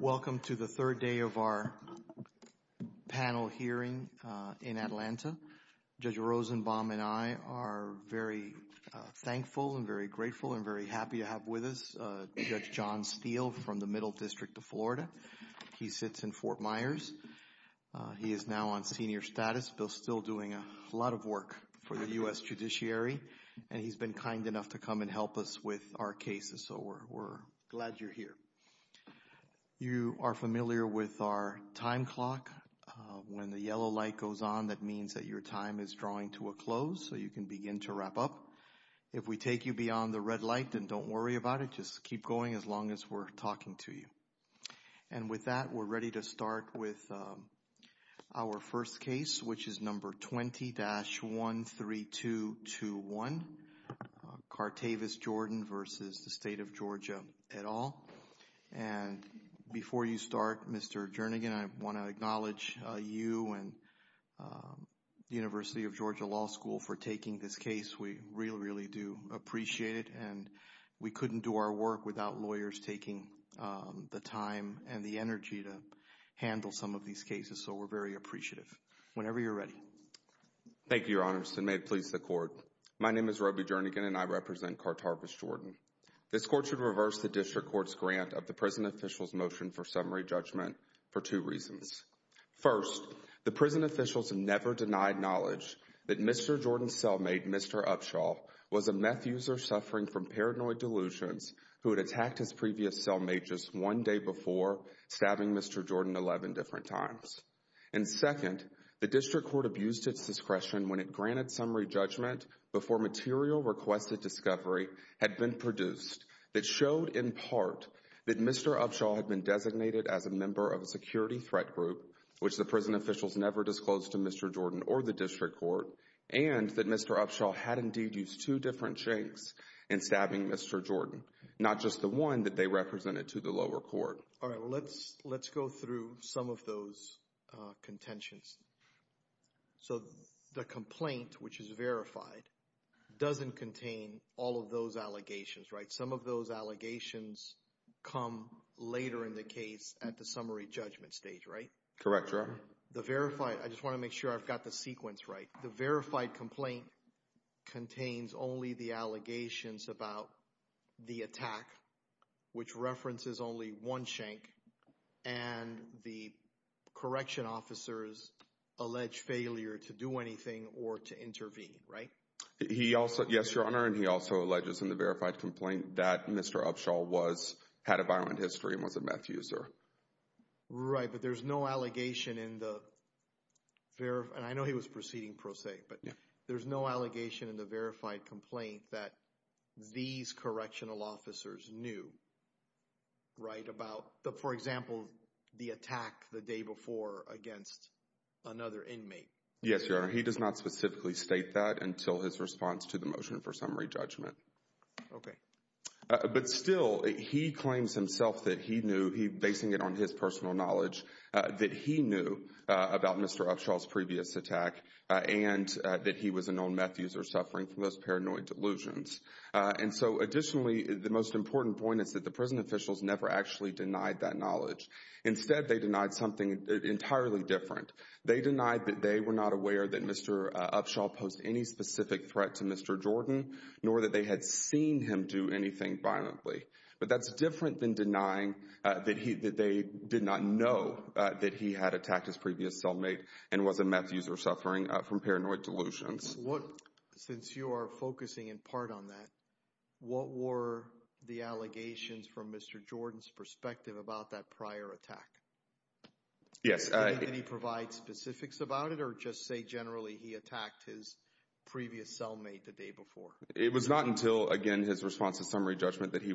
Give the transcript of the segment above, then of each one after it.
Welcome to the third day of our panel hearing in Atlanta. Judge Rosenbaum and I are very thankful and very grateful and very happy to have with us Judge John Steele from the Middle District of Florida. He sits in Fort Myers. He is now on senior status, still doing a lot of work for the U.S. Judiciary and he's been kind enough to come and help us with our cases, so we're glad you're here. You are familiar with our time clock. When the yellow light goes on, that means that your time is drawing to a close, so you can begin to wrap up. If we take you beyond the red light, then don't worry about it. Just keep going as long as we're talking to you. And with that, we're ready to start with our first case, which is number 20-13221, Cartarvis Jordan v. State of Georgia et al. And before you start, Mr. Jernigan, I want to acknowledge you and University of Georgia Law School for taking this case. We really, really do appreciate it and we couldn't do our work without lawyers taking the time and the energy to handle some of these cases, so we're very appreciative. Whenever you're ready. Thank you, Your Honors, and may it please the Court. My name is Roby Jernigan and I represent Cartarvis Jordan. This Court should reverse the District Court's grant of the prison official's motion for summary judgment for two reasons. First, the prison official's never denied knowledge that Mr. Jordan's cellmate, Mr. Upshaw, was a meth user suffering from paranoid delusions who had attacked his previous cellmate just one day before, stabbing Mr. Jordan 11 different times. And second, the District Court abused its discretion when it granted summary judgment before material requested discovery had been produced that showed, in part, that Mr. Upshaw had been designated as a member of a security threat group, which the prison official's never disclosed to Mr. Jordan or the District stabbing Mr. Jordan, not just the one that they represented to the lower court. All right, let's go through some of those contentions. So the complaint, which is verified, doesn't contain all of those allegations, right? Some of those allegations come later in the case at the summary judgment stage, right? Correct, Your Honor. The verified, I just want to make sure I've got the sequence right. The verified complaint contains only the allegations about the attack, which references only one shank, and the correction officers allege failure to do anything or to intervene, right? Yes, Your Honor, and he also alleges in the verified complaint that Mr. Upshaw had a violent history and was a meth user. Right, but there's no and I know he was proceeding pro se, but there's no allegation in the verified complaint that these correctional officers knew, right, about the, for example, the attack the day before against another inmate. Yes, Your Honor, he does not specifically state that until his response to the motion for summary judgment. Okay. But still, he claims himself that he knew, basing it on his personal knowledge, that he knew about Mr. Upshaw's previous attack and that he was a known meth user suffering from those paranoid delusions. And so, additionally, the most important point is that the prison officials never actually denied that knowledge. Instead, they denied something entirely different. They denied that they were not aware that Mr. Upshaw posed any specific threat to Mr. Jordan, nor that they had seen him do anything violently. But that's different than denying that they did not know that he had attacked his previous cellmate and was a meth user suffering from paranoid delusions. Since you are focusing in part on that, what were the allegations from Mr. Jordan's perspective about that prior attack? Yes. Did he provide specifics about it or just say generally he attacked his previous cellmate the day before? It was not until, again, his response to summary judgment that he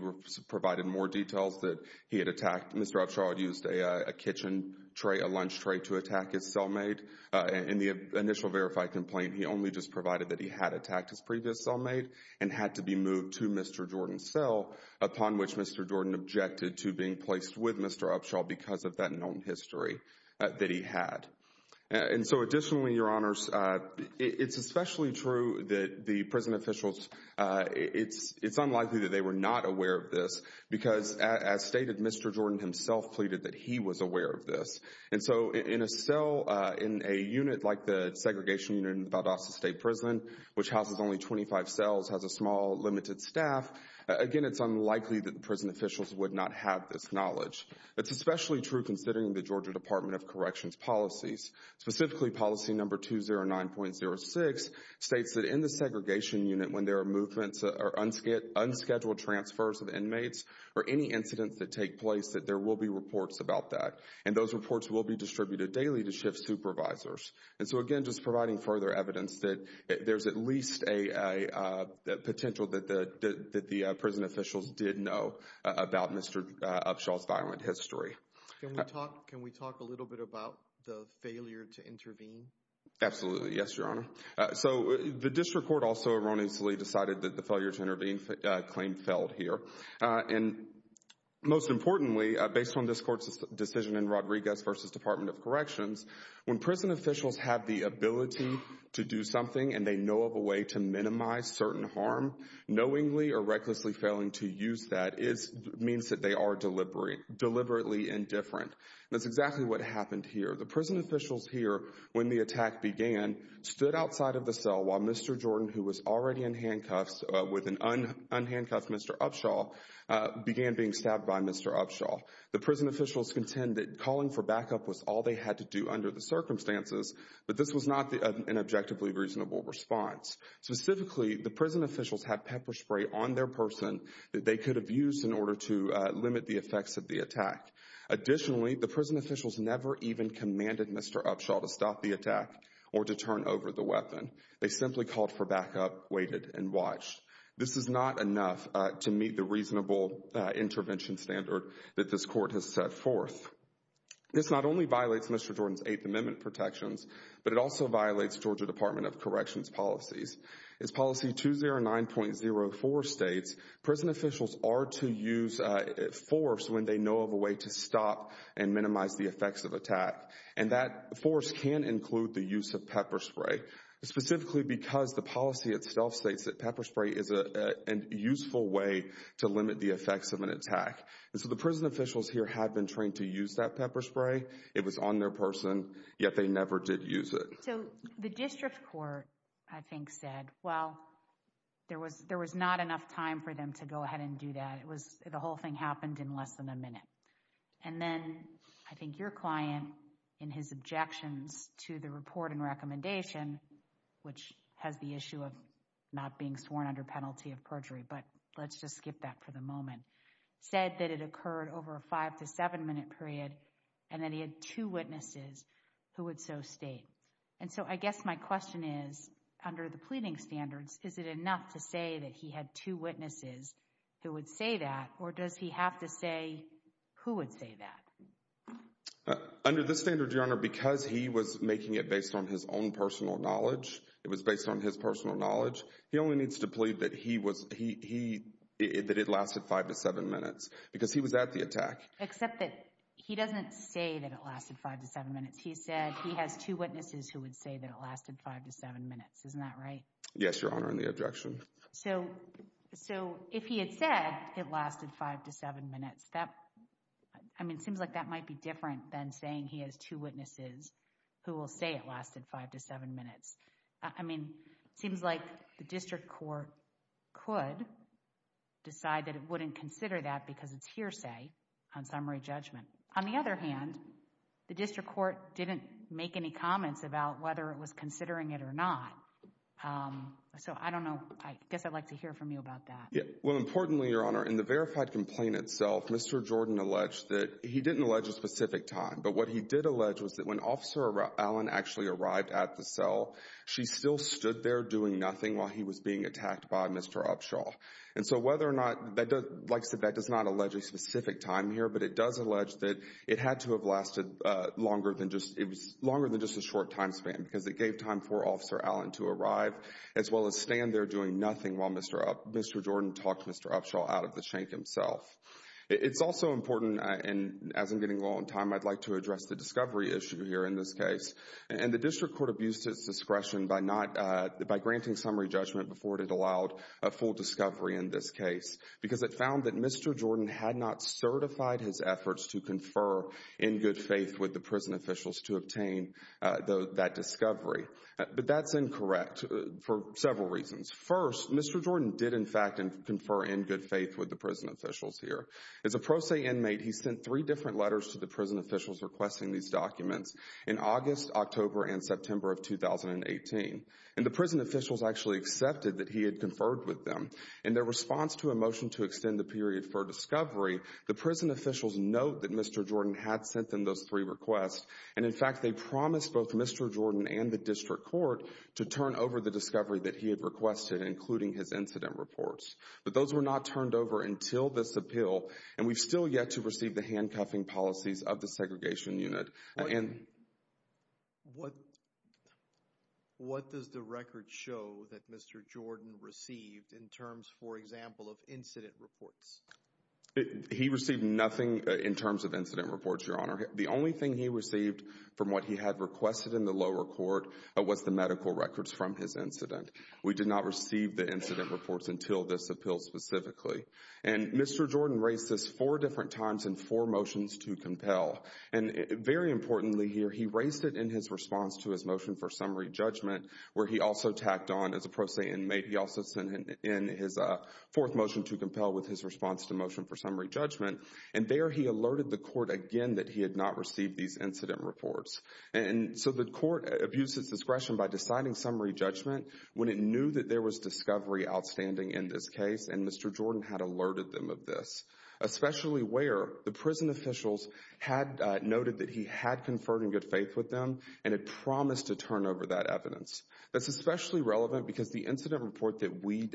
provided more details that he had attacked. Mr. Upshaw used a kitchen tray, a lunch tray, to attack his cellmate. In the initial verified complaint, he only just provided that he had attacked his previous cellmate and had to be moved to Mr. Jordan's cell, upon which Mr. Jordan objected to being placed with Mr. Upshaw because of that known history that he had. And so, additionally, Your Honors, it's especially true that the prison officials were not aware of this because, as stated, Mr. Jordan himself pleaded that he was aware of this. And so, in a cell, in a unit like the segregation unit in Valdosta State Prison, which houses only 25 cells, has a small, limited staff, again, it's unlikely that the prison officials would not have this knowledge. It's especially true considering the Georgia Department of Corrections policies. Specifically, policy number 209.06 states that in the segregation unit, when there are movements or unscheduled transfers of inmates or any incidents that take place, that there will be reports about that. And those reports will be distributed daily to shift supervisors. And so, again, just providing further evidence that there's at least a potential that the prison officials did know about Mr. Upshaw's violent history. Can we talk a little bit about the failure to intervene? Absolutely. Yes, Your Honor. So, the district court also erroneously decided that the failure to intervene claim failed here. And, most importantly, based on this court's decision in Rodriguez v. Department of Corrections, when prison officials have the ability to do something and they know of a way to minimize certain harm, knowingly or recklessly failing to use that means that they are deliberately indifferent. That's exactly what happened here. The prison stood outside of the cell while Mr. Jordan, who was already in handcuffs with an unhandcuffed Mr. Upshaw, began being stabbed by Mr. Upshaw. The prison officials contend that calling for backup was all they had to do under the circumstances, but this was not an objectively reasonable response. Specifically, the prison officials had pepper spray on their person that they could have used in order to limit the effects of the attack. Additionally, the over the weapon. They simply called for backup, waited, and watched. This is not enough to meet the reasonable intervention standard that this court has set forth. This not only violates Mr. Jordan's Eighth Amendment protections, but it also violates Georgia Department of Corrections policies. As policy 209.04 states, prison officials are to use force when they know of a way to stop and minimize the effects of attack. And that force can include the use of pepper spray, specifically because the policy itself states that pepper spray is a useful way to limit the effects of an attack. And so the prison officials here have been trained to use that pepper spray. It was on their person, yet they never did use it. So the district court, I think, said, well, there was there was not enough time for them to go ahead and do that. It was the whole thing happened in less than a minute. And then I think your client, in his objections to the report and recommendation, which has the issue of not being sworn under penalty of perjury, but let's just skip that for the moment, said that it occurred over a five to seven minute period and that he had two witnesses who would so state. And so I guess my question is, under the pleading standards, is it enough to say that he had two witnesses who would say that? Or does he have to say who would say that? Under the standard, your honor, because he was making it based on his own personal knowledge, it was based on his personal knowledge. He only needs to plead that he was he that it lasted five to seven minutes because he was at the attack. Except that he doesn't say that it lasted five to seven minutes. He said he has two witnesses who would say that it lasted five to seven minutes. Isn't that right? Yes, your honor. So, so if he had said it lasted five to seven minutes, that, I mean, it seems like that might be different than saying he has two witnesses who will say it lasted five to seven minutes. I mean, it seems like the district court could decide that it wouldn't consider that because it's hearsay on summary judgment. On the other hand, the district court didn't make any comments about whether it was considering it or not. So, I don't know. I guess I'd like to hear from you about that. Well, importantly, your honor, in the verified complaint itself, Mr. Jordan alleged that he didn't allege a specific time. But what he did allege was that when Officer Allen actually arrived at the cell, she still stood there doing nothing while he was being attacked by Mr. Upshaw. And so whether or not, like I said, that does not allege a specific time here, but it does allege that it had to have lasted longer than just a short time span because it gave time for Officer Allen to arrive as well as stand there doing nothing while Mr. Jordan talked Mr. Upshaw out of the shank himself. It's also important, and as I'm getting low on time, I'd like to address the discovery issue here in this case. And the district court abused its discretion by granting summary judgment before it had allowed a full discovery in this case because it found that Mr. Jordan had not certified his efforts to confer in good faith with the prison officials to obtain that discovery. But that's incorrect for several reasons. First, Mr. Jordan did in fact confer in good faith with the prison officials here. As a pro se inmate, he sent three different letters to the prison officials requesting these documents in August, October, and September of 2018. And the prison officials actually accepted that he had conferred with them. In their response to a motion to extend the period for discovery, the prison officials note that Mr. Jordan had sent them those three requests, and in fact they promised both Mr. Jordan and the district court to turn over the discovery that he had requested, including his incident reports. But those were not turned over until this appeal, and we've still yet to receive the handcuffing policies of the segregation unit. What does the record show that Mr. Jordan received in terms, for example, of incident reports? He received nothing in terms of incident reports, Your Honor. The only thing he received from what he had requested in the lower court was the medical records from his incident. We did not receive the incident reports until this appeal specifically. And Mr. Jordan raised this four different times in four motions to compel. And very importantly here, he raised it in his response to his motion for summary judgment, where he also tacked on as a pro se inmate, he also sent in his fourth motion to compel with his response to motion for summary judgment. And there he alerted the court again that he had not received these incident reports. And so the court abused its discretion by deciding summary judgment when it knew that there was discovery outstanding in this case, and Mr. Jordan had alerted them of this, especially where the prison officials had noted that he had conferred in good faith with them and had promised to turn over that evidence. That's especially relevant because the incident report that we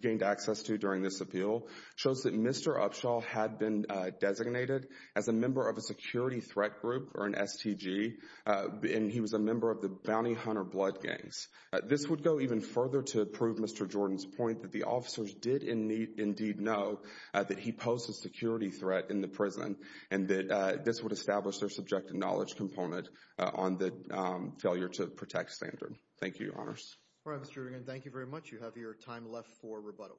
gained access to during this appeal shows that Mr. Upshaw had been designated as a member of a security threat group or an STG, and he was a member of the bounty hunter blood gangs. This would go even further to prove Mr. Jordan's point that the officers did indeed know that he posed a security threat in the prison, and that this would establish their subjective knowledge component on the failure to protect standard. Thank you, Your Honors. All right, Mr. Reardon, thank you very much. You have your time left for rebuttal.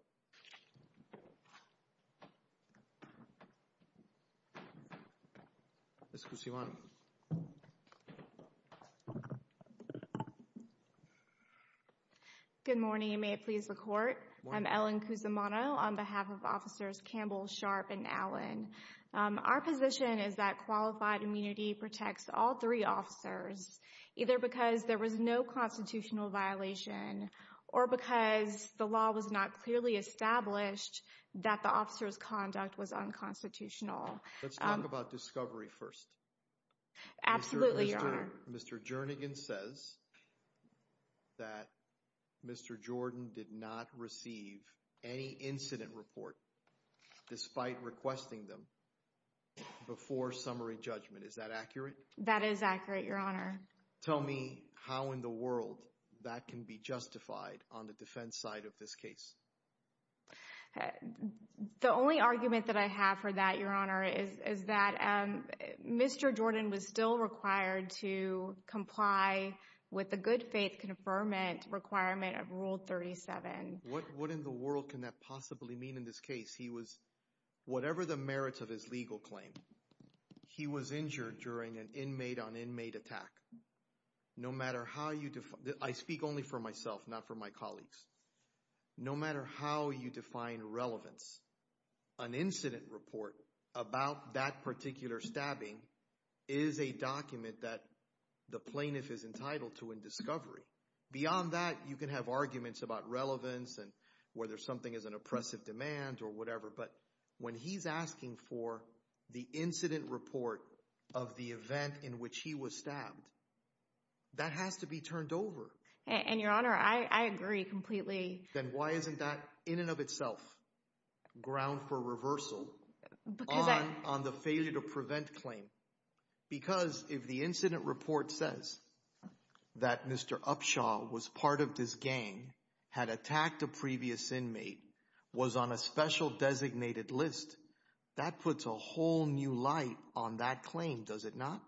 Ms. Cusimano. Good morning, and may it please the Court. I'm Ellen Cusimano on behalf of Officers Campbell, Sharp, and Allen. Our position is that qualified immunity protects all three officers, either because there was no constitutional violation or because the law was not clearly established that the officer's conduct was unconstitutional. Let's talk about discovery first. Absolutely, Your Honor. Mr. Jernigan says that Mr. Jordan did not receive any incident report despite requesting them before summary judgment. Is that accurate? That is accurate, Your Honor. Tell me how in the world that can be justified on the defense side of this case. The only argument that I have for that, Your Honor, is that Mr. Jordan was still required to comply with the good faith conferment requirement of Rule 37. What in the world can that possibly mean in this case? He was, whatever the merits of his legal claim, he was injured during an inmate on inmate attack. No matter how you define, I speak only for myself, not for my colleagues, no matter how you define relevance, an incident report about that particular stabbing is a document that the plaintiff is entitled to in discovery. Beyond that, you can have arguments about relevance and whether something is an oppressive demand or whatever, but when he's for the incident report of the event in which he was stabbed, that has to be turned over. And Your Honor, I agree completely. Then why isn't that in and of itself ground for reversal on the failure to prevent claim? Because if the incident report says that Mr. Upshaw was part of this gang, had attacked a previous inmate, was on a special designated list, that puts a whole new light on that claim, does it not?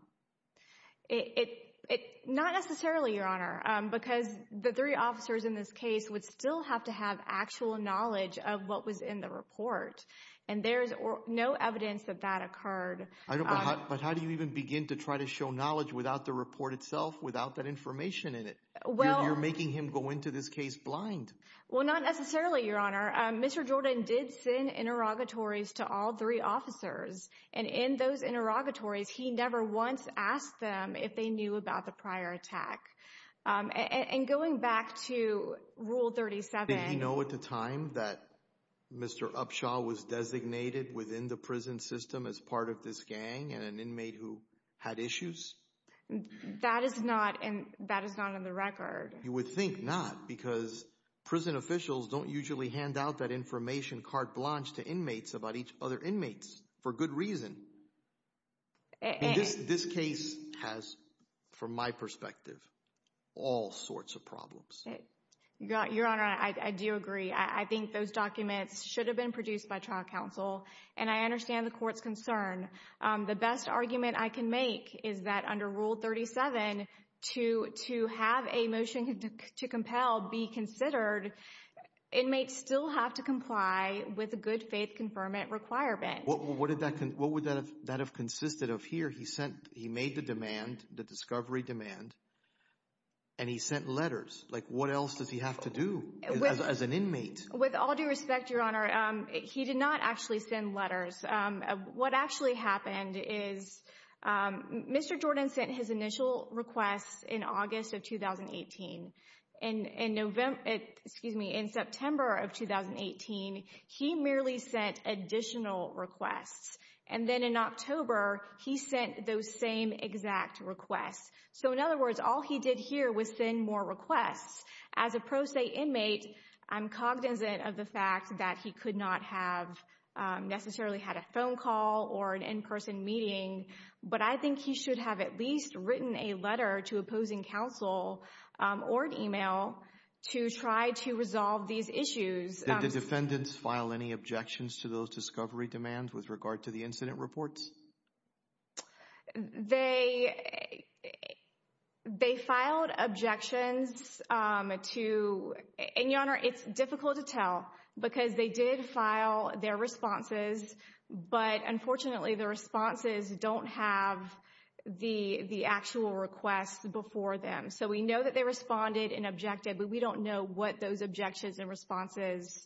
Not necessarily, Your Honor, because the three officers in this case would still have to have actual knowledge of what was in the report. And there's no evidence that that occurred. But how do you even begin to try to show knowledge without the report itself, without that information in it? You're making him go into this case blind. Well, not necessarily, Your Honor. Mr. Jordan did send interrogatories to all three officers, and in those interrogatories, he never once asked them if they knew about the prior attack. And going back to Rule 37... Did he know at the time that Mr. Upshaw was designated within the prison system as part of this gang and an inmate who had issues? That is not in the record. You would think not, because prison officials don't usually hand out that information carte blanche to inmates about each other inmates, for good reason. This case has, from my perspective, all sorts of problems. Your Honor, I do agree. I think those documents should have been produced by trial counsel, and I understand the court's concern. The best argument I can make is that under Rule 37, to have a motion to compel be considered, inmates still have to comply with a good faith conferment requirement. What would that have consisted of here? He made the demand, the discovery demand, and he sent letters. What else does he have to do as an inmate? With all due respect, Your Honor, he did not actually send letters. What actually happened is Mr. Jordan sent his initial requests in August of 2018. In September of 2018, he merely sent additional requests. And then in October, he sent those same exact requests. So in other words, all he did here was send more requests. As a pro se inmate, I'm cognizant of the fact that he could not have necessarily had a phone call or an in-person meeting, but I think he should have at least written a letter to opposing counsel or an email to try to resolve these issues. Did the defendants file any objections to those requests? Your Honor, it's difficult to tell because they did file their responses, but unfortunately, the responses don't have the actual requests before them. So we know that they responded and objected, but we don't know what those objections and responses,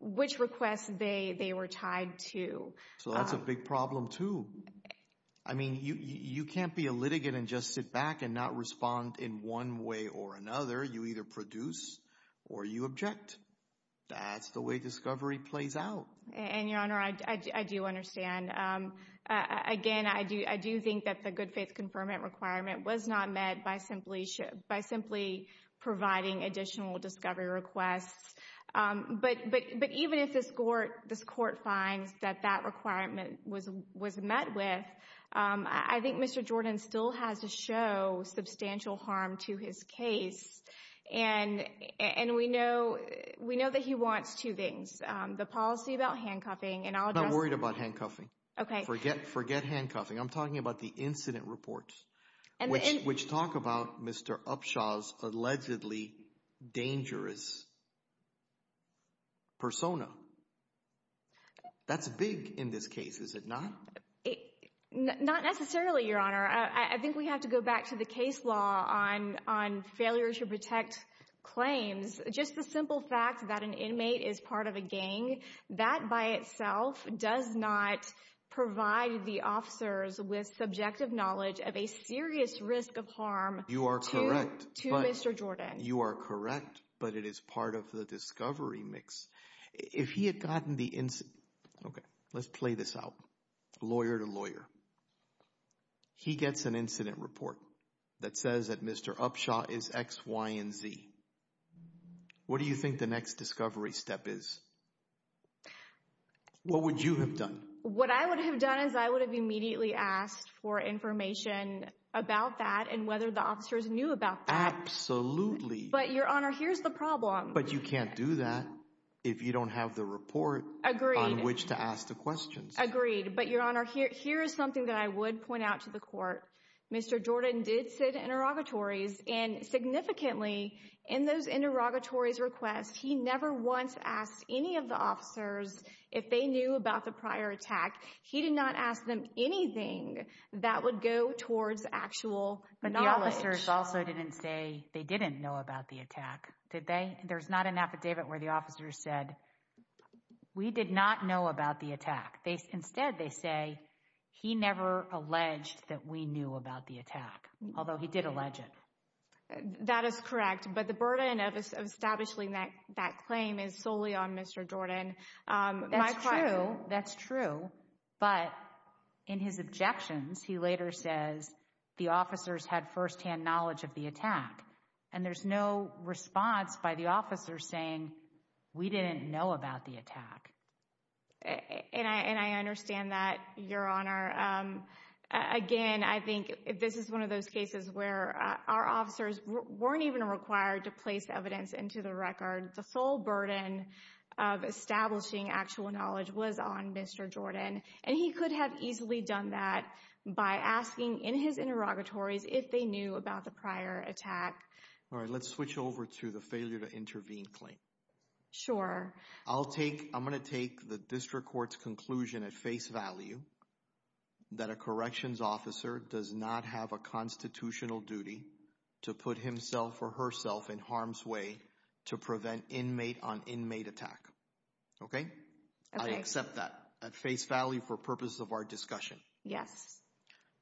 which requests they were tied to. So that's a big problem too. I mean, you can't be a litigant and just sit back and not respond in one way or another. You either produce or you object. That's the way discovery plays out. And Your Honor, I do understand. Again, I do think that the good faith conferment requirement was not met by simply providing additional discovery requests. But even if this Court finds that that requirement was met with, I think Mr. Jordan still has to show substantial harm to his case. And we know that he wants two things. The policy about handcuffing, and I'll address... I'm not worried about handcuffing. Okay. Forget handcuffing. I'm talking about the incident reports, which talk about Mr. Upshaw's dangerous persona. That's big in this case, is it not? Not necessarily, Your Honor. I think we have to go back to the case law on failure to protect claims. Just the simple fact that an inmate is part of a gang, that by itself does not provide the officers with subjective knowledge of a serious risk of harm to Mr. Jordan. You are correct, but it is part of the discovery mix. If he had gotten the... Okay, let's play this out, lawyer to lawyer. He gets an incident report that says that Mr. Upshaw is X, Y, and Z. What do you think the next discovery step is? What would you have done? What I would have done is I would have immediately asked for information about that and whether the officers knew about that. Absolutely. But Your Honor, here's the problem. But you can't do that if you don't have the report on which to ask the questions. Agreed. But Your Honor, here is something that I would point out to the court. Mr. Jordan did sit interrogatories, and significantly, in those interrogatories requests, he never once asked any of the officers if they knew about the prior attack. He did not ask them anything that would go towards actual knowledge. But the officers also didn't say they didn't know about the attack, did they? There's not an affidavit where the officers said, we did not know about the attack. Instead, they say, he never alleged that we knew about the attack, although he did allege it. That is correct, but the burden of establishing that claim is solely on Mr. Jordan. That's true. That's true. But in his objections, he later says the officers had first-hand knowledge of the attack, and there's no response by the officers saying, we didn't know about the attack. And I understand that, Your Honor. Again, I think this is one of those cases where our actual knowledge was on Mr. Jordan, and he could have easily done that by asking in his interrogatories if they knew about the prior attack. All right, let's switch over to the failure to intervene claim. Sure. I'm going to take the district court's conclusion at face value that a corrections officer does not have a constitutional duty to put himself or herself in harm's way to prevent inmate on inmate attack. Okay? I accept that at face value for purposes of our discussion. Yes.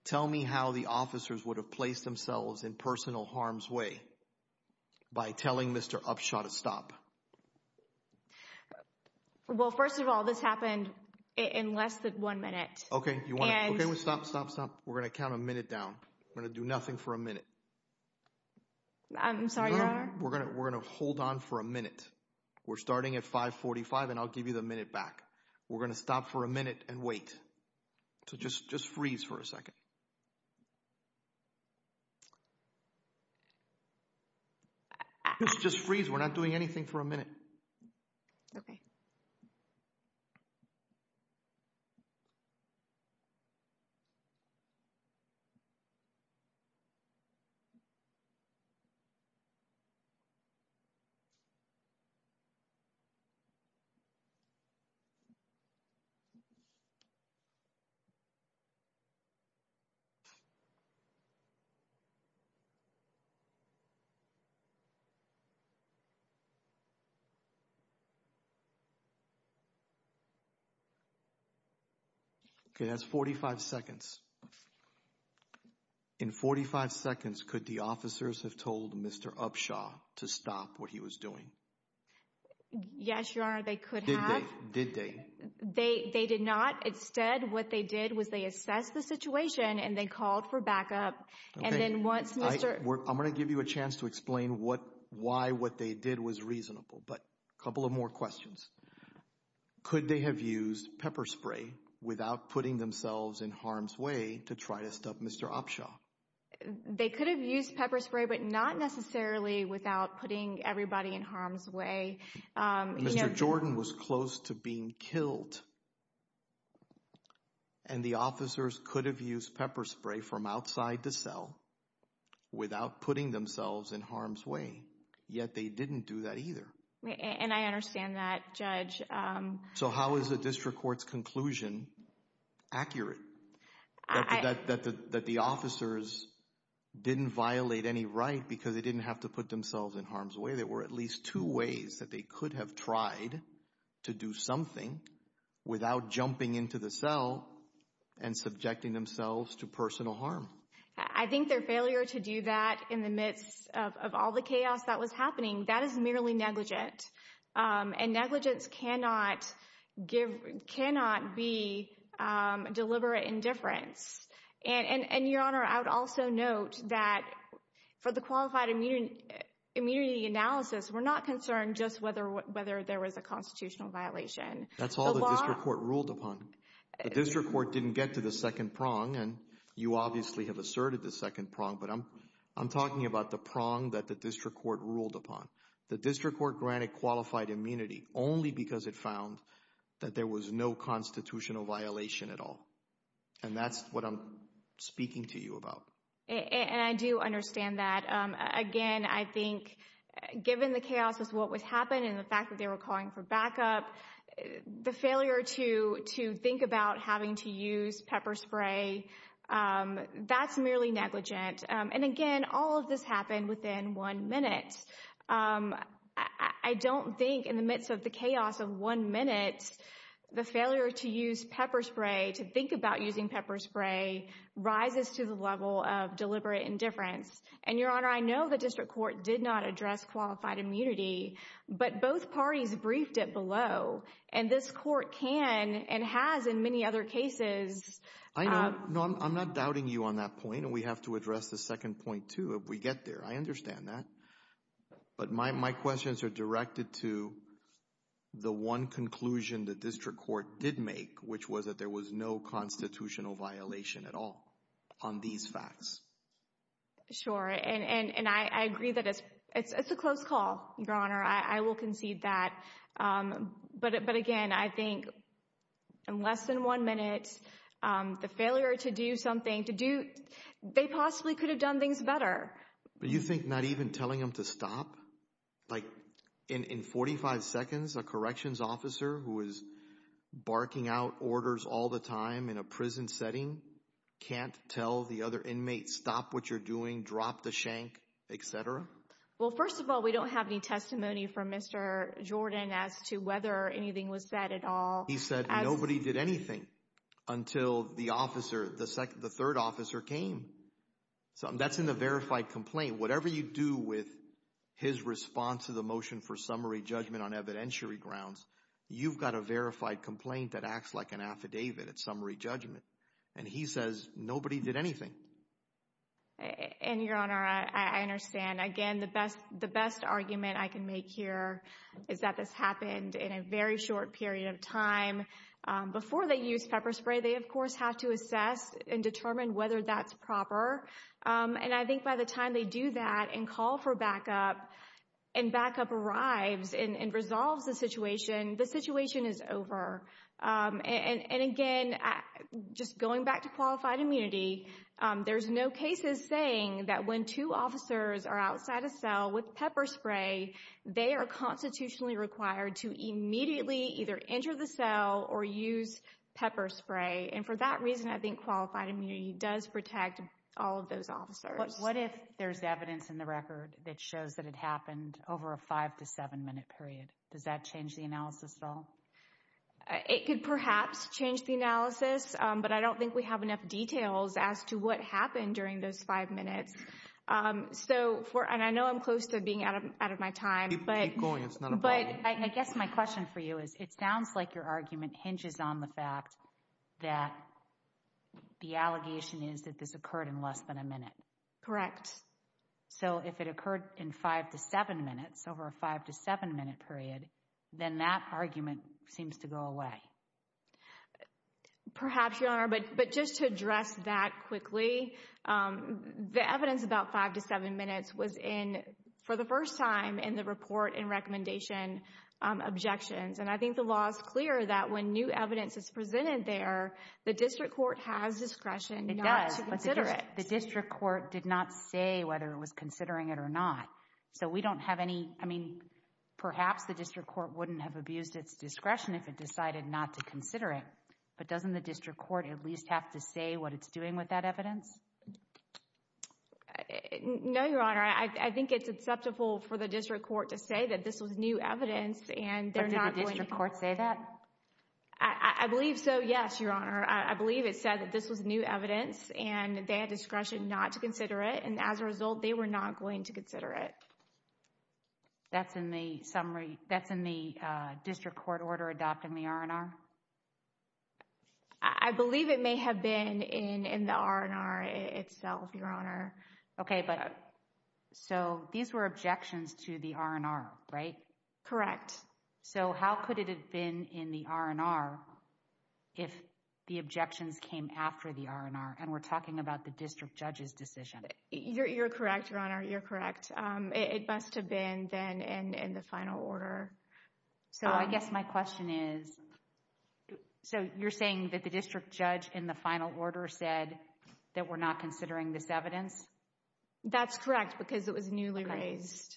Tell me how the officers would have placed themselves in personal harm's way by telling Mr. Upshaw to stop. Well, first of all, this happened in less than one minute. Okay. You want to stop, stop, stop. We're going to count a minute down. We're going to do nothing for a minute. I'm sorry, Your Honor. We're going to hold on for a minute. We're starting at 545, and I'll give you the minute back. We're going to stop for a minute and wait. So, just freeze for a second. Just freeze. We're not doing anything for a minute. Okay. Okay. That's 45 seconds. In 45 seconds, could the officers have told Mr. Upshaw to stop what he was doing? Yes, Your Honor. They could have. Did they? They did not. Instead, what they did was they assessed the situation, and they called for backup. Okay. I'm going to give you a chance to explain why what they did was reasonable, but a couple of more questions. Could they have used pepper spray without putting themselves in harm's way to try to stop Mr. Upshaw? They could have used pepper spray, but not necessarily without putting everybody in harm's way. Mr. Jordan was close to being killed, and the officers could have used pepper spray from outside the cell without putting themselves in harm's way, yet they didn't do that either. And I understand that, Judge. So, how is the district court's conclusion accurate that the officers didn't violate any right because they didn't have to put themselves in harm's way? There were at least two ways that they could have tried to do something without jumping into the cell and subjecting themselves to personal harm. I think their failure to do that in the midst of all the chaos that was happening, that is merely negligent, and negligence cannot be deliberate indifference. And, Your Honor, I would also note that for the qualified immunity analysis, we're not concerned just whether there was a constitutional violation. That's all the district court ruled upon. The you obviously have asserted the second prong, but I'm talking about the prong that the district court ruled upon. The district court granted qualified immunity only because it found that there was no constitutional violation at all. And that's what I'm speaking to you about. And I do understand that. Again, I think given the chaos of what was happening and the fact that calling for backup, the failure to think about having to use pepper spray, that's merely negligent. And again, all of this happened within one minute. I don't think in the midst of the chaos of one minute, the failure to use pepper spray, to think about using pepper spray rises to the level of deliberate indifference. And, Your Honor, I know the district court did not address qualified immunity, but both parties briefed it below. And this court can and has in many other cases. I know. No, I'm not doubting you on that point. And we have to address the second point, too, if we get there. I understand that. But my questions are directed to the one conclusion the district court did make, which was that there was no constitutional violation at all on these facts. Sure. And I agree that it's a close call, Your Honor. I will concede that. But again, I think in less than one minute, the failure to do something, they possibly could have done things better. But you think not even telling them to stop? Like in 45 seconds, a corrections officer who is barking out orders all the time in a prison setting can't tell the other inmates, stop what you're doing, drop the shank, et cetera? Well, first of all, we don't have any testimony from Mr. Jordan as to whether anything was said at all. He said nobody did anything until the officer, the third officer came. That's in the verified complaint. Whatever you do with his response to the motion for summary judgment on evidentiary grounds, you've got a verified complaint that acts like an affidavit. Summary judgment. And he says nobody did anything. And Your Honor, I understand. Again, the best argument I can make here is that this happened in a very short period of time. Before they use pepper spray, they of course have to assess and determine whether that's proper. And I think by the time they do that and call for backup and backup arrives and resolves the situation, the situation is over. And again, just going back to qualified immunity, there's no cases saying that when two officers are outside a cell with pepper spray, they are constitutionally required to immediately either enter the cell or use pepper spray. And for that reason, I think qualified immunity does protect all of those officers. What if there's evidence in the record that shows that it happened over a five to seven minute period? Does that change the analysis at all? It could perhaps change the analysis, but I don't think we have enough details as to what happened during those five minutes. And I know I'm close to being out of my time. Keep going. It's not a problem. But I guess my question for you is, it sounds like your argument hinges on the fact that the allegation is that this occurred in less than a minute. Correct. So if it occurred in five to seven minutes over a five to seven minute period, then that argument seems to go away. Perhaps, Your Honor, but just to address that quickly, the evidence about five to seven minutes was in for the first time in the report and recommendation objections. And I think the law is clear that when new evidence is presented there, the district court has discretion not to consider it. The district court did not say whether it was considering it or not. So we don't have any, I mean, perhaps the district court wouldn't have abused its discretion if it decided not to consider it. But doesn't the district court at least have to say what it's doing with that evidence? No, Your Honor. I think it's acceptable for the district court to say that this was new evidence and they're not going to... Did the district court say that? I believe so, yes, Your Honor. I believe it said that this was new evidence and they had discretion not to consider it. And as a result, they were not going to consider it. That's in the summary, that's in the district court order adopting the R&R? I believe it may have been in the R&R itself, Your Honor. Okay, but so these were objections to the R&R, right? Correct. So how could it have been in the R&R if the objections came after the R&R? And we're talking about the district judge's decision. You're correct, Your Honor. You're correct. It must have been then in the final order. So I guess my question is, so you're saying that the district judge in the final order said that we're not considering this evidence? That's correct because it was newly raised.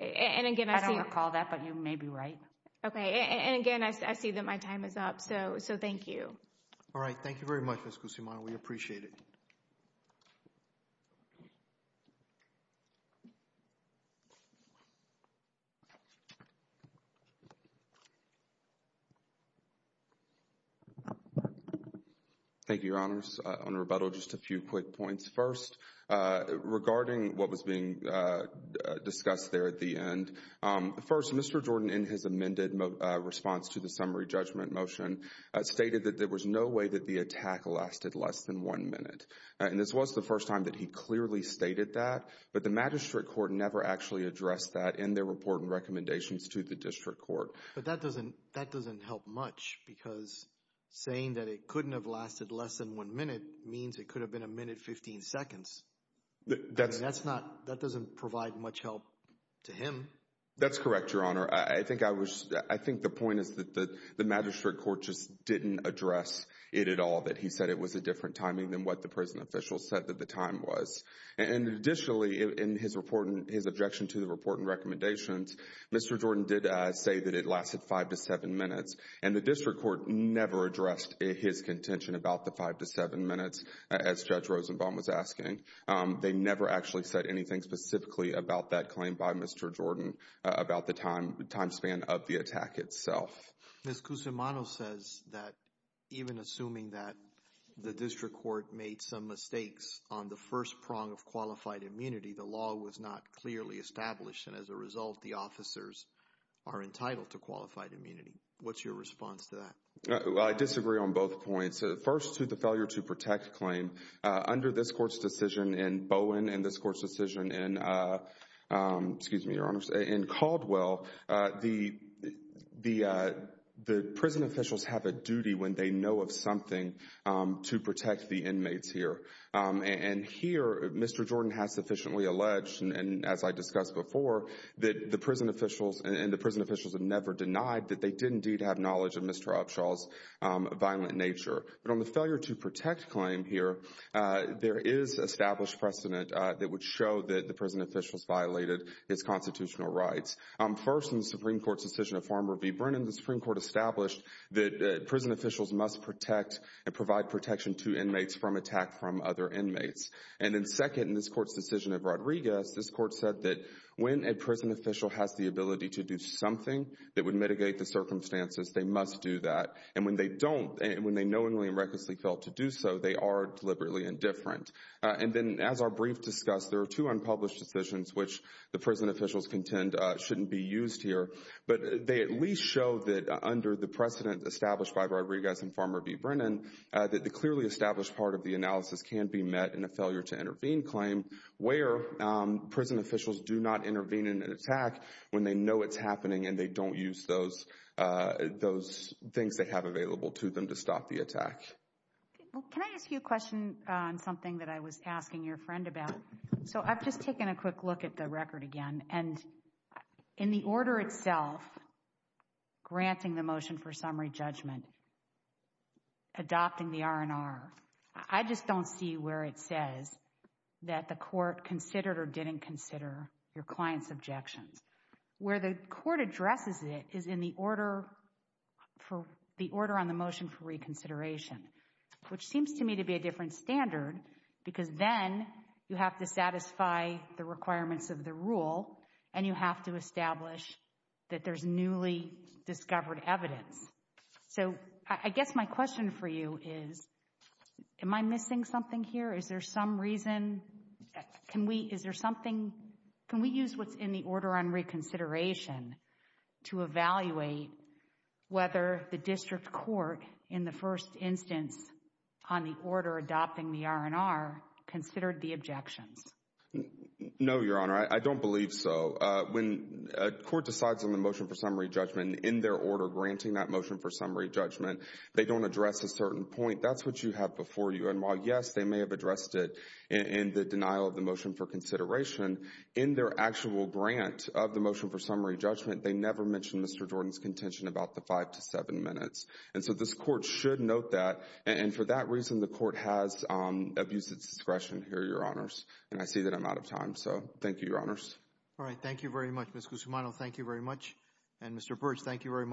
I don't recall that, but you may be right. Okay. And again, I see that my time is up. So thank you. All right. Thank you very much, Ms. Guzman. We appreciate it. Thank you, Your Honors. On rebuttal, just a few quick points. First, regarding what was being discussed there at the end. First, Mr. Jordan, in his amended response to the summary judgment motion, stated that there was no way that the attack lasted less than one minute. And this was the first time that he clearly stated that, but the magistrate court never actually addressed that in their report and recommendations to the district court. But that doesn't help much because saying that it couldn't have lasted less than one minute means it could have been a minute, 15 seconds. That doesn't provide much help to him. That's correct, Your Honor. I think the point is that the magistrate court just didn't address it at all, that he said it was a different timing than what the prison officials said that the time was. And additionally, in his objection to the report and recommendations, Mr. Jordan did say that it lasted five to seven minutes, and the district court never addressed his contention about the five to seven minutes, as Judge Rosenbaum was asking. They never actually said anything specifically about that claim by Mr. Jordan about the time span of the attack itself. Ms. Cusimano says that even assuming that the district court made some mistakes on the first prong of qualified immunity, the law was not clearly established. And as a result, the officers are entitled to qualified immunity. What's your response to that? Well, I disagree on both points. First, to the failure to protect claim. Under this court's decision in Bowen and this court's decision in Caldwell, the prison officials have a duty when they know of something to protect the inmates here. And here, Mr. Jordan has sufficiently alleged, and as I discussed before, that the prison officials and the prison officials have never denied that they did indeed have knowledge of Mr. Upshaw's violent nature. But on the failure to protect claim here, there is established precedent that would show that the prison officials violated his constitutional rights. First, in the Supreme Court's decision of Farmer v. Brennan, the Supreme Court established that prison officials must protect and provide protection to inmates from attack from other inmates. And then second, in this court's decision of Rodriguez, this court said that when a prison official has the ability to do something that would mitigate the circumstances, they must do that. And when they don't, when they knowingly and recklessly fail to do so, they are deliberately indifferent. And then as our brief discussed, there are two unpublished decisions which the prison officials contend shouldn't be used here, but they at least show that under the precedent established by Rodriguez and Farmer v. Brennan, that the clearly established part of the analysis can be met in a failure to intervene claim where prison officials do not intervene in an attack when they know it's happening and they don't use those, those things they have available to them to stop the attack. Can I ask you a question on something that I was asking your friend about? So I've just taken a quick look at the record again, and in the order itself, granting the motion for summary judgment, adopting the R&R, I just don't see where it says that the court considered or didn't consider your client's objections. Where the court addresses it is in the order for the order on the motion for reconsideration, which seems to me to be a different standard because then you have to satisfy the requirements of the rule and you have to establish that there's newly discovered evidence. So I guess my question for you is, am I missing something here? Is there some reason, can we, is there something, can we use what's in the order on reconsideration to evaluate whether the district court in the first instance on the order adopting the R&R considered the objections? No, your honor, I don't believe so. When a court decides on the motion for summary judgment in their order granting that motion for summary judgment, they don't address a certain point. That's what you have before you. And while, yes, they may have addressed it in the denial of the motion for consideration, in their actual grant of the motion for summary judgment, they never mentioned Mr. Jordan's contention about the five to seven minutes. And so this court should note that, and for that reason, the court has abuse of discretion here, your honors, and I see that I'm out of time. So thank you, your honors. All right. Thank you very much, your honor.